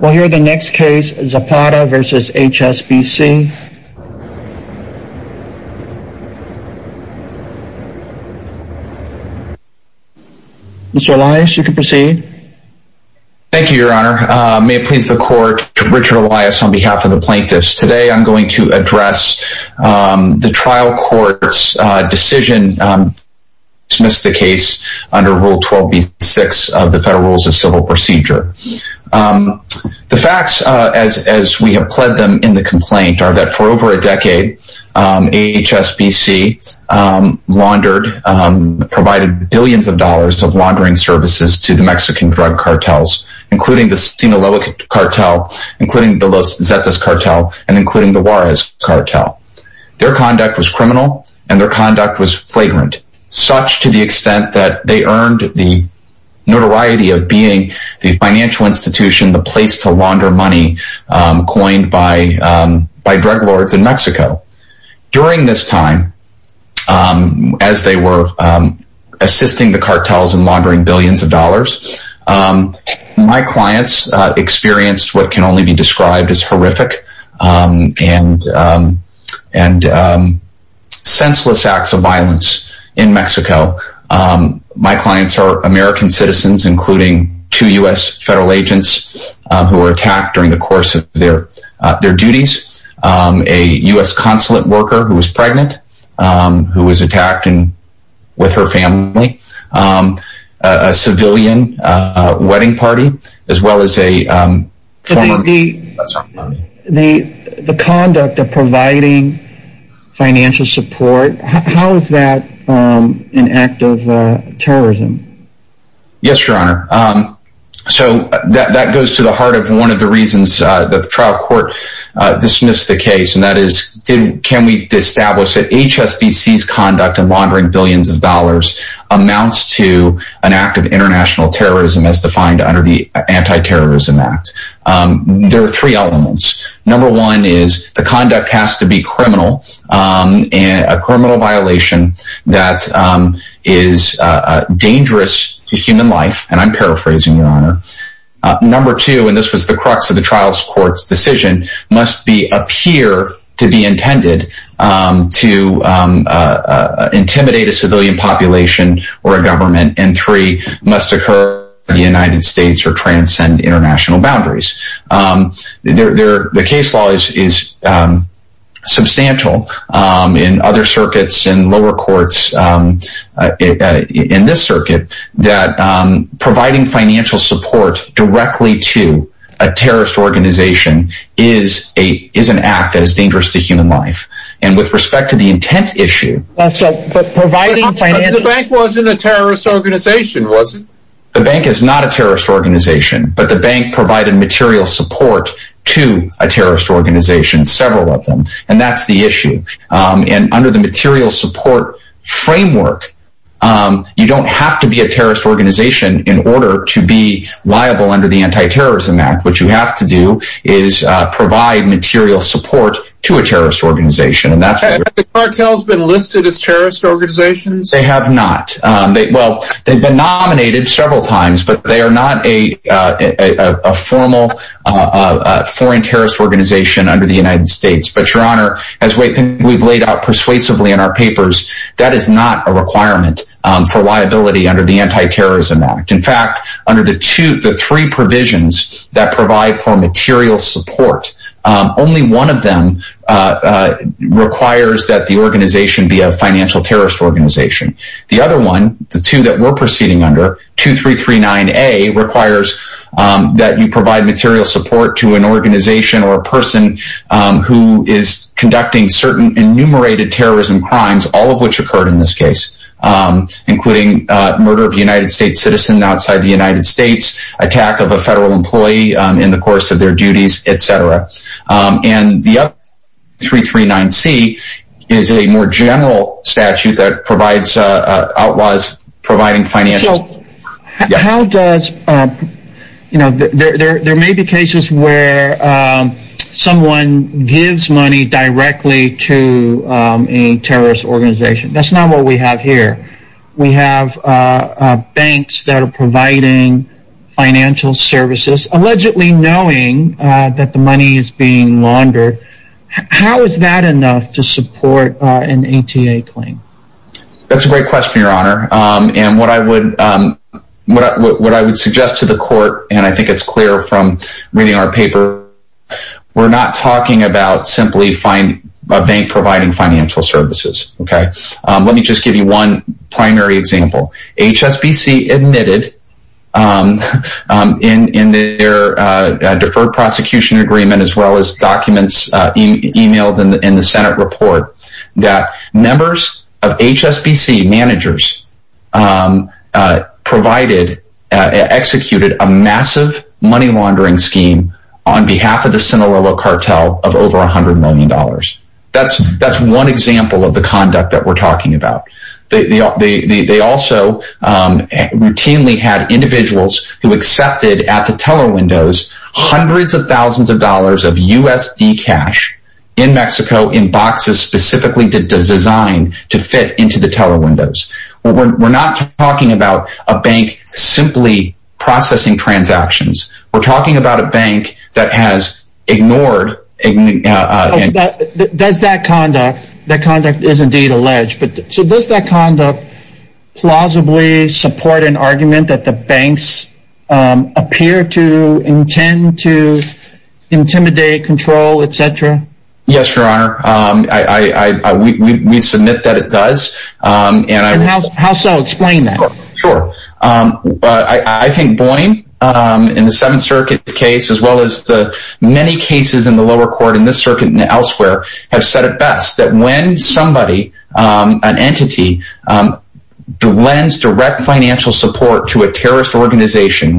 We'll hear the next case, Zapata v. HSBC. Mr. Elias, you can proceed. Thank you, Your Honor. May it please the court, Richard Elias on behalf of the plaintiffs. Today I'm going to address the trial court's decision to dismiss the case under Rule 12b-6 of the Federal Rules of Civil Procedure. The facts, as we have pledged them in the complaint, are that for over a decade, HSBC laundered, provided billions of dollars of laundering services to the Mexican drug cartels, including the Sinaloa cartel, including the Los Zetas cartel, and including the Juarez cartel. Their conduct was criminal, and their conduct was flagrant, such to the extent that they earned the notoriety of being the financial institution, the place to launder money, coined by drug lords in Mexico. During this time, as they were assisting the cartels in laundering billions of dollars, my clients experienced what can only be described as horrific and senseless acts of violence in Mexico. My clients are American citizens, including two U.S. federal agents who were attacked during the course of their duties, a U.S. consulate worker who was pregnant, who was attacked with her family, a civilian wedding party, as well as a former... The conduct of providing financial support, how is that an act of terrorism? Yes, Your Honor. So, that goes to the heart of one of the reasons that the trial court dismissed the case, and that is, can we establish that HSBC's conduct of laundering billions of dollars amounts to an act of international terrorism as defined under the Anti-Terrorism Act? There are three elements. Number one is, the conduct has to be criminal, a criminal violation that is dangerous to human life, and I'm paraphrasing, Your Honor. Number two, and this was the crux of the trial court's decision, must appear to be intended to intimidate a civilian population or a government, and three, must occur in the United States or transcend international boundaries. The case law is substantial in other circuits, in lower courts, in this circuit, that providing financial support directly to a terrorist organization is an act that is dangerous to human life. And with respect to the intent issue... But the bank wasn't a terrorist organization, was it? The bank is not a terrorist organization, but the bank provided material support to a terrorist organization, several of them, and that's the issue. And under the material support framework, you don't have to be a terrorist organization in order to be liable under the Anti-Terrorism Act. What you have to do is provide material support to a terrorist organization. Have the cartels been listed as terrorist organizations? They have not. Well, they've been nominated several times, but they are not a formal foreign terrorist organization under the United States. But, Your Honor, as we've laid out persuasively in our papers, that is not a requirement for liability under the Anti-Terrorism Act. In fact, under the three provisions that provide for material support, only one of them requires that the organization be a financial terrorist organization. The other one, the two that we're proceeding under, 2339A, requires that you provide material support to an organization or a person who is conducting certain enumerated terrorism crimes, all of which occurred in this case. Including murder of a United States citizen outside the United States, attack of a federal employee in the course of their duties, etc. And the other, 2339C, is a more general statute that outlaws providing financial support. So, there may be cases where someone gives money directly to a terrorist organization. That's not what we have here. We have banks that are providing financial services, allegedly knowing that the money is being laundered. How is that enough to support an ATA claim? That's a great question, Your Honor. And what I would suggest to the court, and I think it's clear from reading our paper, we're not talking about simply a bank providing financial services. Let me just give you one primary example. HSBC admitted in their deferred prosecution agreement, as well as documents emailed in the Senate report, that members of HSBC managers executed a massive money laundering scheme on behalf of the Sinaloa cartel of over $100 million. That's one example of the conduct that we're talking about. They also routinely had individuals who accepted, at the teller windows, hundreds of thousands of dollars of USD cash in Mexico in boxes specifically designed to fit into the teller windows. We're not talking about a bank simply processing transactions. We're talking about a bank that has ignored... Does that conduct, that conduct is indeed alleged, so does that conduct plausibly support an argument that the banks appear to intend to intimidate, control, etc.? Yes, Your Honor. We submit that it does. How so? Explain that. Sure. I think Boeing, in the Seventh Circuit case, as well as the many cases in the lower court in this circuit and elsewhere, have said it best. That when somebody, an entity, lends direct financial support to a terrorist organization,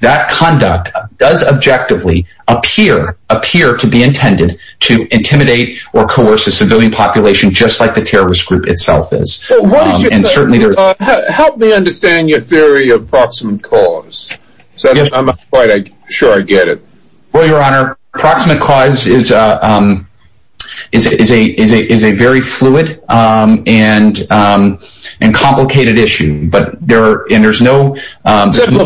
that conduct does objectively appear to be intended to intimidate or coerce a civilian population just like the terrorist group itself is. Help me understand your theory of proximate cause. I'm not quite sure I get it. Well, Your Honor, proximate cause is a very fluid and complicated issue.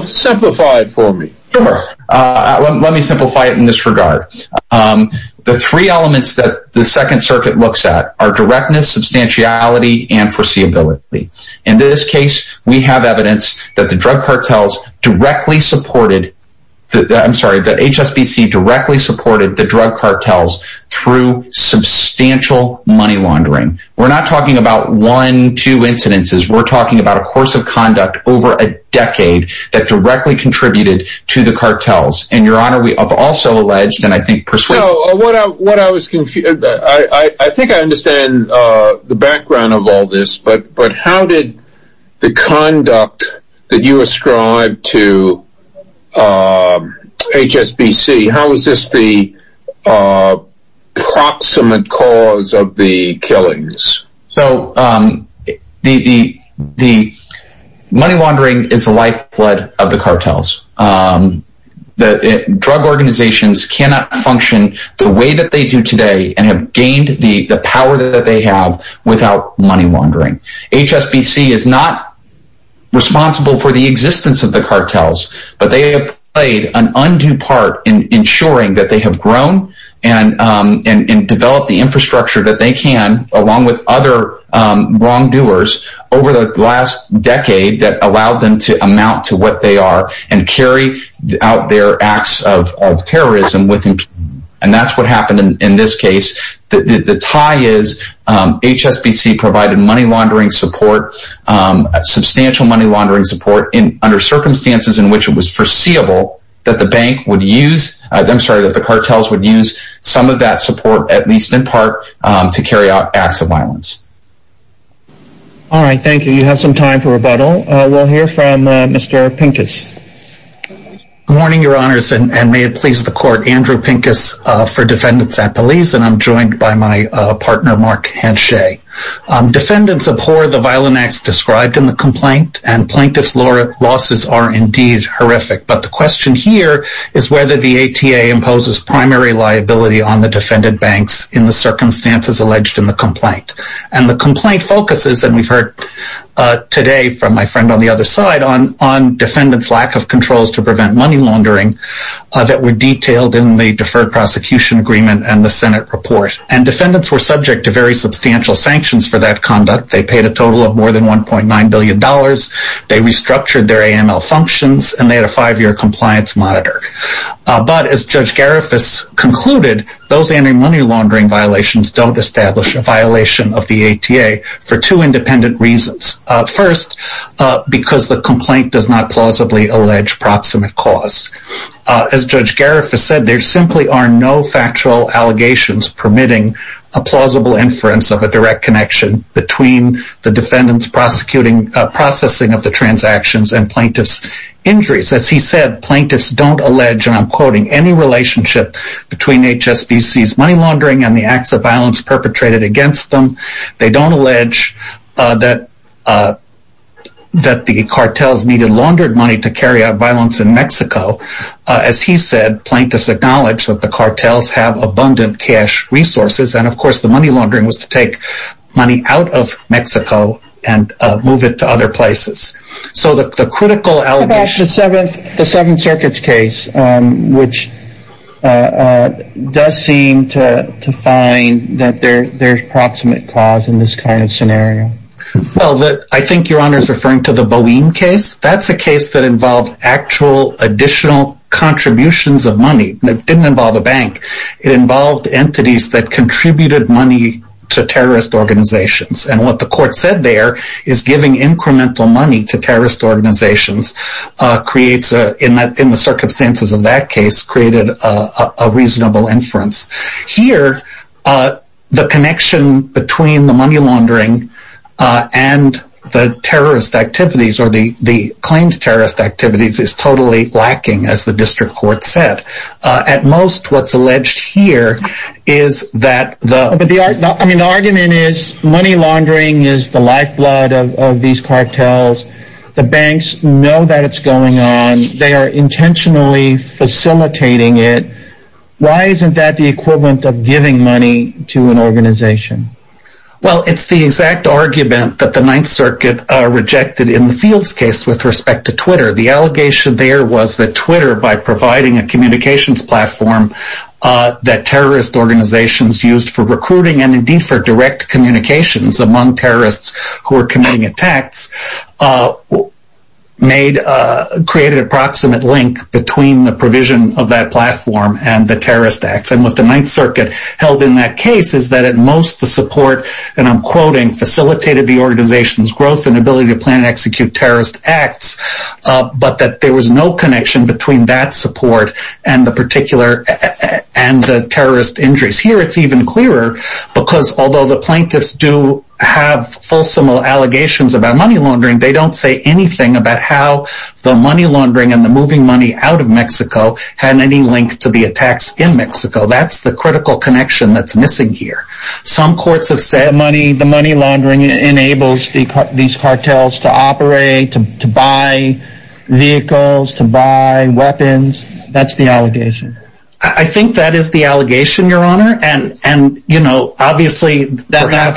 Simplify it for me. Sure. Let me simplify it in this regard. The three elements that the Second Circuit looks at are directness, substantiality, and foreseeability. In this case, we have evidence that the drug cartels directly supported... I'm sorry, that HSBC directly supported the drug cartels through substantial money laundering. We're not talking about one, two incidences. We're talking about a course of conduct over a decade that directly contributed to the cartels. And, Your Honor, we have also alleged and I think persuaded... I think I understand the background of all this, but how did the conduct that you ascribe to HSBC, how is this the proximate cause of the killings? So, the money laundering is the lifeblood of the cartels. Drug organizations cannot function the way that they do today and have gained the power that they have without money laundering. HSBC is not responsible for the existence of the cartels, but they have played an undue part in ensuring that they have grown and developed the infrastructure that they can along with other wrongdoers over the last decade that allowed them to amount to what they are and carry out their acts of terrorism. And that's what happened in this case. The tie is HSBC provided money laundering support, substantial money laundering support, under circumstances in which it was foreseeable that the cartels would use some of that support, at least in part, to carry out acts of violence. All right, thank you. You have some time for rebuttal. We'll hear from Mr. Pincus. Good morning, Your Honors, and may it please the Court, Andrew Pincus for Defendants at Police, and I'm joined by my partner, Mark Hanshay. Defendants abhor the violent acts described in the complaint, and plaintiff's losses are indeed horrific. But the question here is whether the ATA imposes primary liability on the defendant banks in the circumstances alleged in the complaint. And the complaint focuses, and we've heard today from my friend on the other side, on defendants' lack of controls to prevent money laundering that were detailed in the Deferred Prosecution Agreement and the Senate report. And defendants were subject to very substantial sanctions for that conduct. They paid a total of more than $1.9 billion, they restructured their AML functions, and they had a five-year compliance monitor. But, as Judge Garifuss concluded, those anti-money laundering violations don't establish a violation of the ATA for two independent reasons. First, because the complaint does not plausibly allege proximate cause. As Judge Garifuss said, there simply are no factual allegations permitting a plausible inference of a direct connection between the defendant's processing of the transactions and plaintiff's injuries. As he said, plaintiffs don't allege, and I'm quoting, any relationship between HSBC's money laundering and the acts of violence perpetrated against them. They don't allege that the cartels needed laundered money to carry out violence in Mexico. As he said, plaintiffs acknowledge that the cartels have abundant cash resources, and of course the money laundering was to take money out of Mexico and move it to other places. What about the Seventh Circuit's case, which does seem to find that there's proximate cause in this kind of scenario? Well, I think Your Honor is referring to the Boeing case. That's a case that involved actual additional contributions of money. It didn't involve a bank. It involved entities that contributed money to terrorist organizations. And what the court said there is giving incremental money to terrorist organizations, in the circumstances of that case, created a reasonable inference. Here, the connection between the money laundering and the terrorist activities, or the claimed terrorist activities, is totally lacking, as the district court said. At most, what's alleged here is that the... But the argument is money laundering is the lifeblood of these cartels. The banks know that it's going on. They are intentionally facilitating it. Why isn't that the equivalent of giving money to an organization? Well, it's the exact argument that the Ninth Circuit rejected in the Fields case with respect to Twitter. The allegation there was that Twitter, by providing a communications platform that terrorist organizations used for recruiting and indeed for direct communications among terrorists who were committing attacks, created a proximate link between the provision of that platform and the terrorist acts. And what the Ninth Circuit held in that case is that at most, the support, and I'm quoting, facilitated the organization's growth and ability to plan and execute terrorist acts, but that there was no connection between that support and the terrorist injuries. Here, it's even clearer, because although the plaintiffs do have fulsome allegations about money laundering, they don't say anything about how the money laundering and the moving money out of Mexico had any link to the attacks in Mexico. That's the critical connection that's missing here. Some courts have said money laundering enables these cartels to operate, to buy vehicles, to buy weapons. That's the allegation. I think that is the allegation, Your Honor. That's not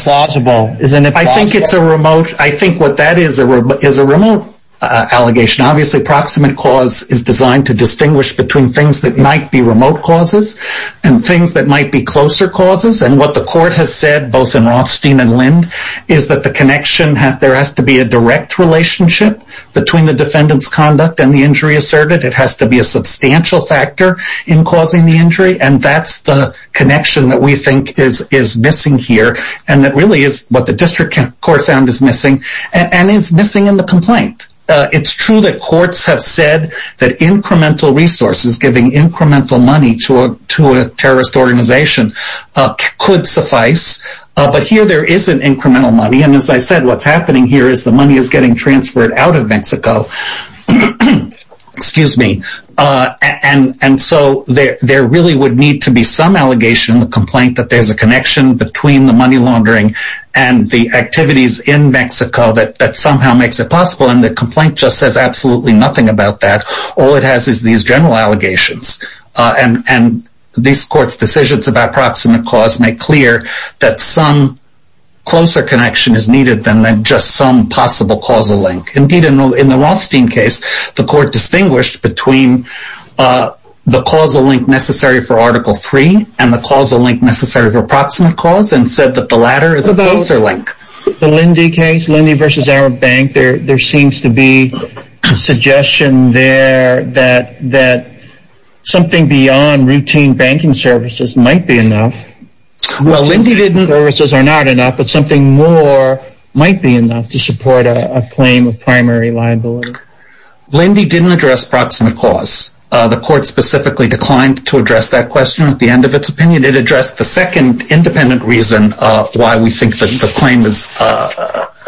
plausible. I think what that is is a remote allegation. Obviously, proximate cause is designed to distinguish between things that might be remote causes and things that might be closer causes. And what the court has said, both in Rothstein and Lind, is that there has to be a direct relationship between the defendant's conduct and the injury asserted. It has to be a substantial factor in causing the injury, and that's the connection that we think is missing here, and that really is what the district court found is missing, and is missing in the complaint. It's true that courts have said that incremental resources, giving incremental money to a terrorist organization, could suffice. But here, there isn't incremental money, and as I said, what's happening here is the money is getting transferred out of Mexico. Excuse me. And so there really would need to be some allegation in the complaint that there's a connection between the money laundering and the activities in Mexico that somehow makes it possible, and the complaint just says absolutely nothing about that. All it has is these general allegations, and this court's decisions about proximate cause make clear that some closer connection is needed than just some possible causal link. Indeed, in the Rothstein case, the court distinguished between the causal link necessary for Article III and the causal link necessary for proximate cause, and said that the latter is a closer link. In the Lindy case, Lindy v. Arab Bank, there seems to be a suggestion there that something beyond routine banking services might be enough. Well, Lindy didn't... Services are not enough, but something more might be enough to support a claim of primary liability. Lindy didn't address proximate cause. The court specifically declined to address that question at the end of its opinion. It addressed the second independent reason why we think the claim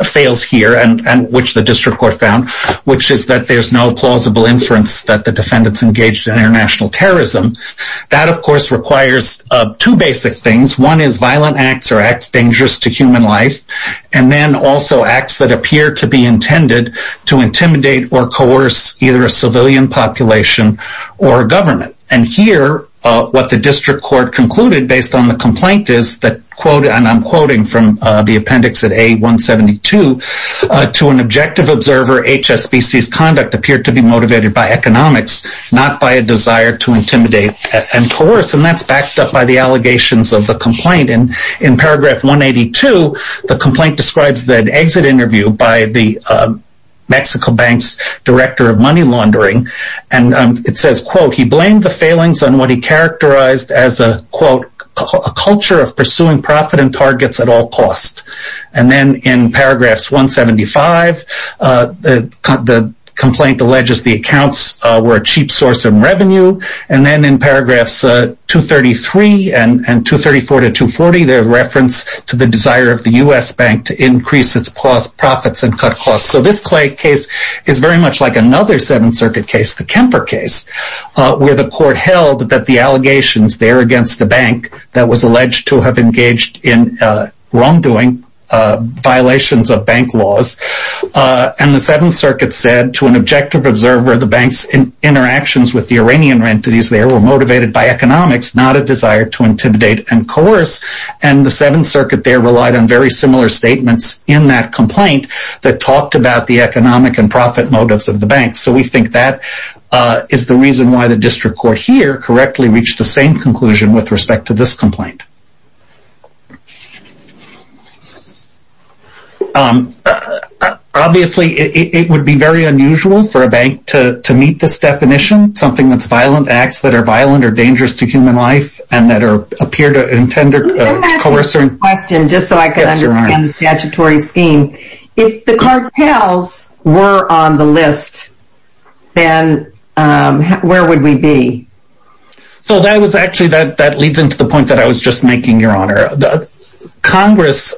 fails here, and which the district court found, which is that there's no plausible inference that the defendant's engaged in international terrorism. That, of course, requires two basic things. One is violent acts or acts dangerous to human life, and then also acts that appear to be intended to intimidate or coerce either a civilian population or a government. And here, what the district court concluded based on the complaint is that, and I'm quoting from the appendix at A172, to an objective observer, HSBC's conduct appeared to be motivated by economics, not by a desire to intimidate and coerce, and that's backed up by the allegations of the complaint. And in paragraph 182, the complaint describes that exit interview by the Mexico Bank's director of money laundering, and it says, quote, he blamed the failings on what he characterized as a, quote, a culture of pursuing profit and targets at all costs. And then in paragraphs 175, the complaint alleges the accounts were a cheap source of revenue. And then in paragraphs 233 and 234 to 240, there's reference to the desire of the U.S. Bank to increase its profits and cut costs. So this case is very much like another Seventh Circuit case, the Kemper case, where the court held that the allegations there against the bank that was alleged to have engaged in wrongdoing, violations of bank laws. And the Seventh Circuit said to an objective observer, the bank's interactions with the Iranian entities there were motivated by economics, not a desire to intimidate and coerce. And the Seventh Circuit there relied on very similar statements in that complaint that talked about the economic and profit motives of the bank. So we think that is the reason why the district court here correctly reached the same conclusion with respect to this complaint. Obviously, it would be very unusual for a bank to meet this definition, something that's violent, acts that are violent or dangerous to human life, and that appear to intend to coerce. Let me ask you a question, just so I can understand the statutory scheme. If the cartels were on the list, then where would we be? So that leads into the point that I was just making, Your Honor. Congress,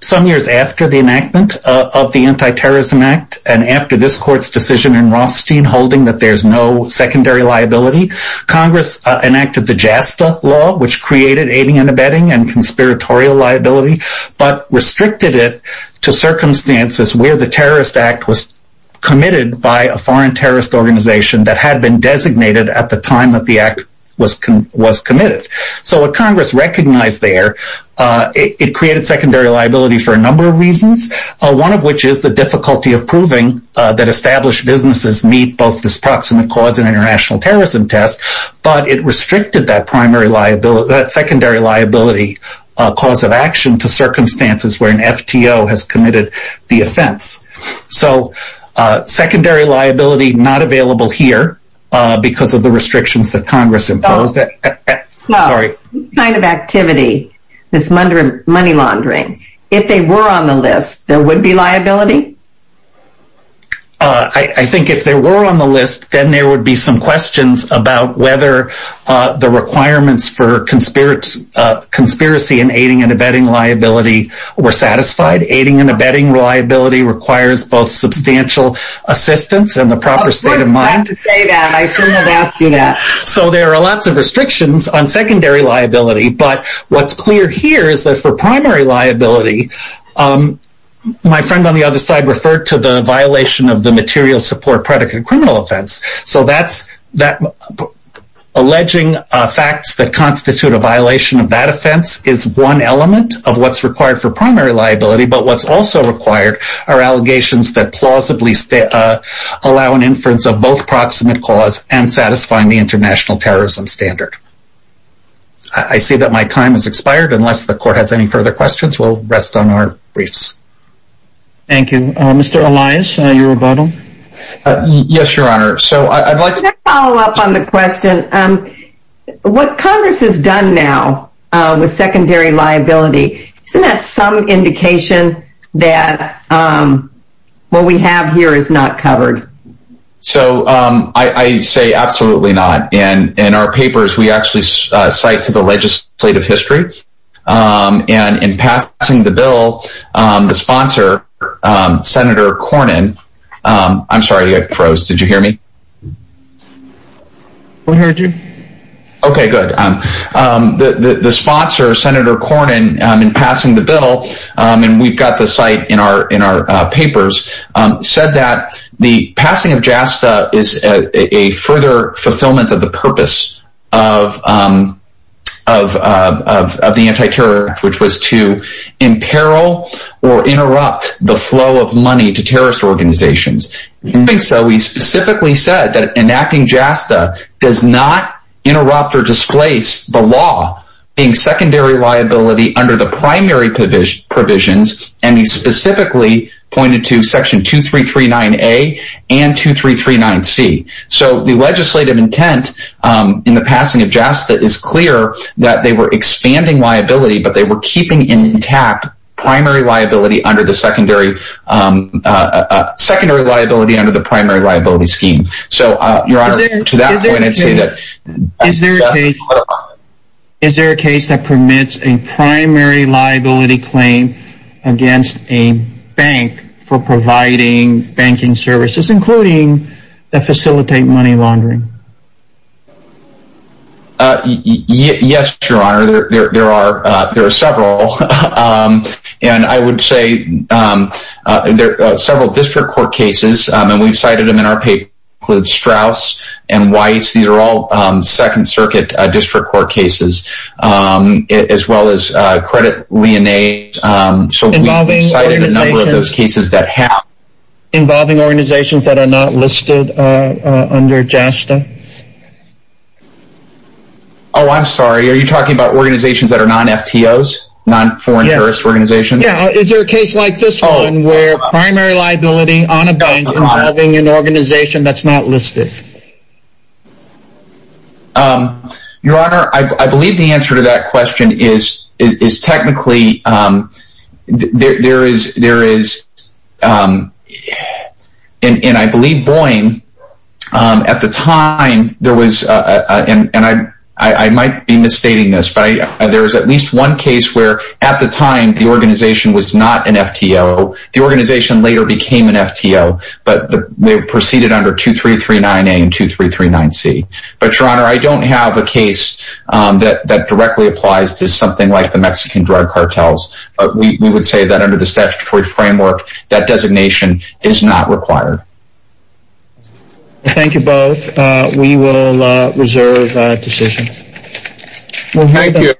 some years after the enactment of the Anti-Terrorism Act, and after this court's decision in Rothstein holding that there's no secondary liability, Congress enacted the JASTA law, which created aiding and abetting and conspiratorial liability, but restricted it to circumstances where the terrorist act was committed by a foreign terrorist organization that had been designated at the time that the act was committed. So what Congress recognized there, it created secondary liability for a number of reasons, one of which is the difficulty of proving that established businesses meet both this proximate cause and international terrorism test, but it restricted that secondary liability cause of action to circumstances where an FTO has committed the offense. So, secondary liability not available here because of the restrictions that Congress imposed. So, this kind of activity, this money laundering, if they were on the list, there would be liability? I think if they were on the list, then there would be some questions about whether the requirements for conspiracy and aiding and abetting liability were satisfied. Aiding and abetting liability requires both substantial assistance and the proper state of mind. So there are lots of restrictions on secondary liability, but what's clear here is that for primary liability, my friend on the other side referred to the violation of the material support predicate criminal offense. So, alleging facts that constitute a violation of that offense is one element of what's required for primary liability, but what's also required are allegations that plausibly allow an inference of both proximate cause and satisfying the international terrorism standard. I see that my time has expired. Unless the court has any further questions, we'll rest on our briefs. Thank you. Mr. Elias, your rebuttal? Yes, Your Honor. Can I follow up on the question? What Congress has done now with secondary liability, isn't that some indication that what we have here is not covered? I say absolutely not. In our papers, we actually cite to the legislative history, and in passing the bill, the sponsor, Senator Cornyn, and we've got the site in our papers, said that the passing of JASTA is a further fulfillment of the purpose of the anti-terror act, which was to imperil or interrupt the flow of money to terrorist organizations. In doing so, he specifically said that enacting JASTA does not interrupt or displace the law being secondary liability under the primary provisions, and he specifically pointed to Section 2339A and 2339C. So the legislative intent in the passing of JASTA is clear that they were expanding liability, but they were keeping intact primary liability under the secondary liability under the primary liability scheme. Is there a case that permits a primary liability claim against a bank for providing banking services, including that facilitate money laundering? Yes, Your Honor, there are several. And I would say there are several district court cases, and we've cited them in our paper, include Strauss and Weiss. These are all Second Circuit district court cases, as well as credit lien aid. Involving organizations that are not listed under JASTA? Oh, I'm sorry, are you talking about organizations that are non-FTOs, non-foreign terrorist organizations? Yeah, is there a case like this one where primary liability on a bank involving an organization that's not listed? Your Honor, I believe the answer to that question is technically, there is, and I believe Boeing, at the time, there was, and I might be misstating this, but there was at least one case where at the time the organization was not an FTO. The organization later became an FTO, but they proceeded under 2339A and 2339C. But, Your Honor, I don't have a case that directly applies to something like the Mexican drug cartels. We would say that under the statutory framework, that designation is not required. Thank you both. We will reserve decision. Thank you.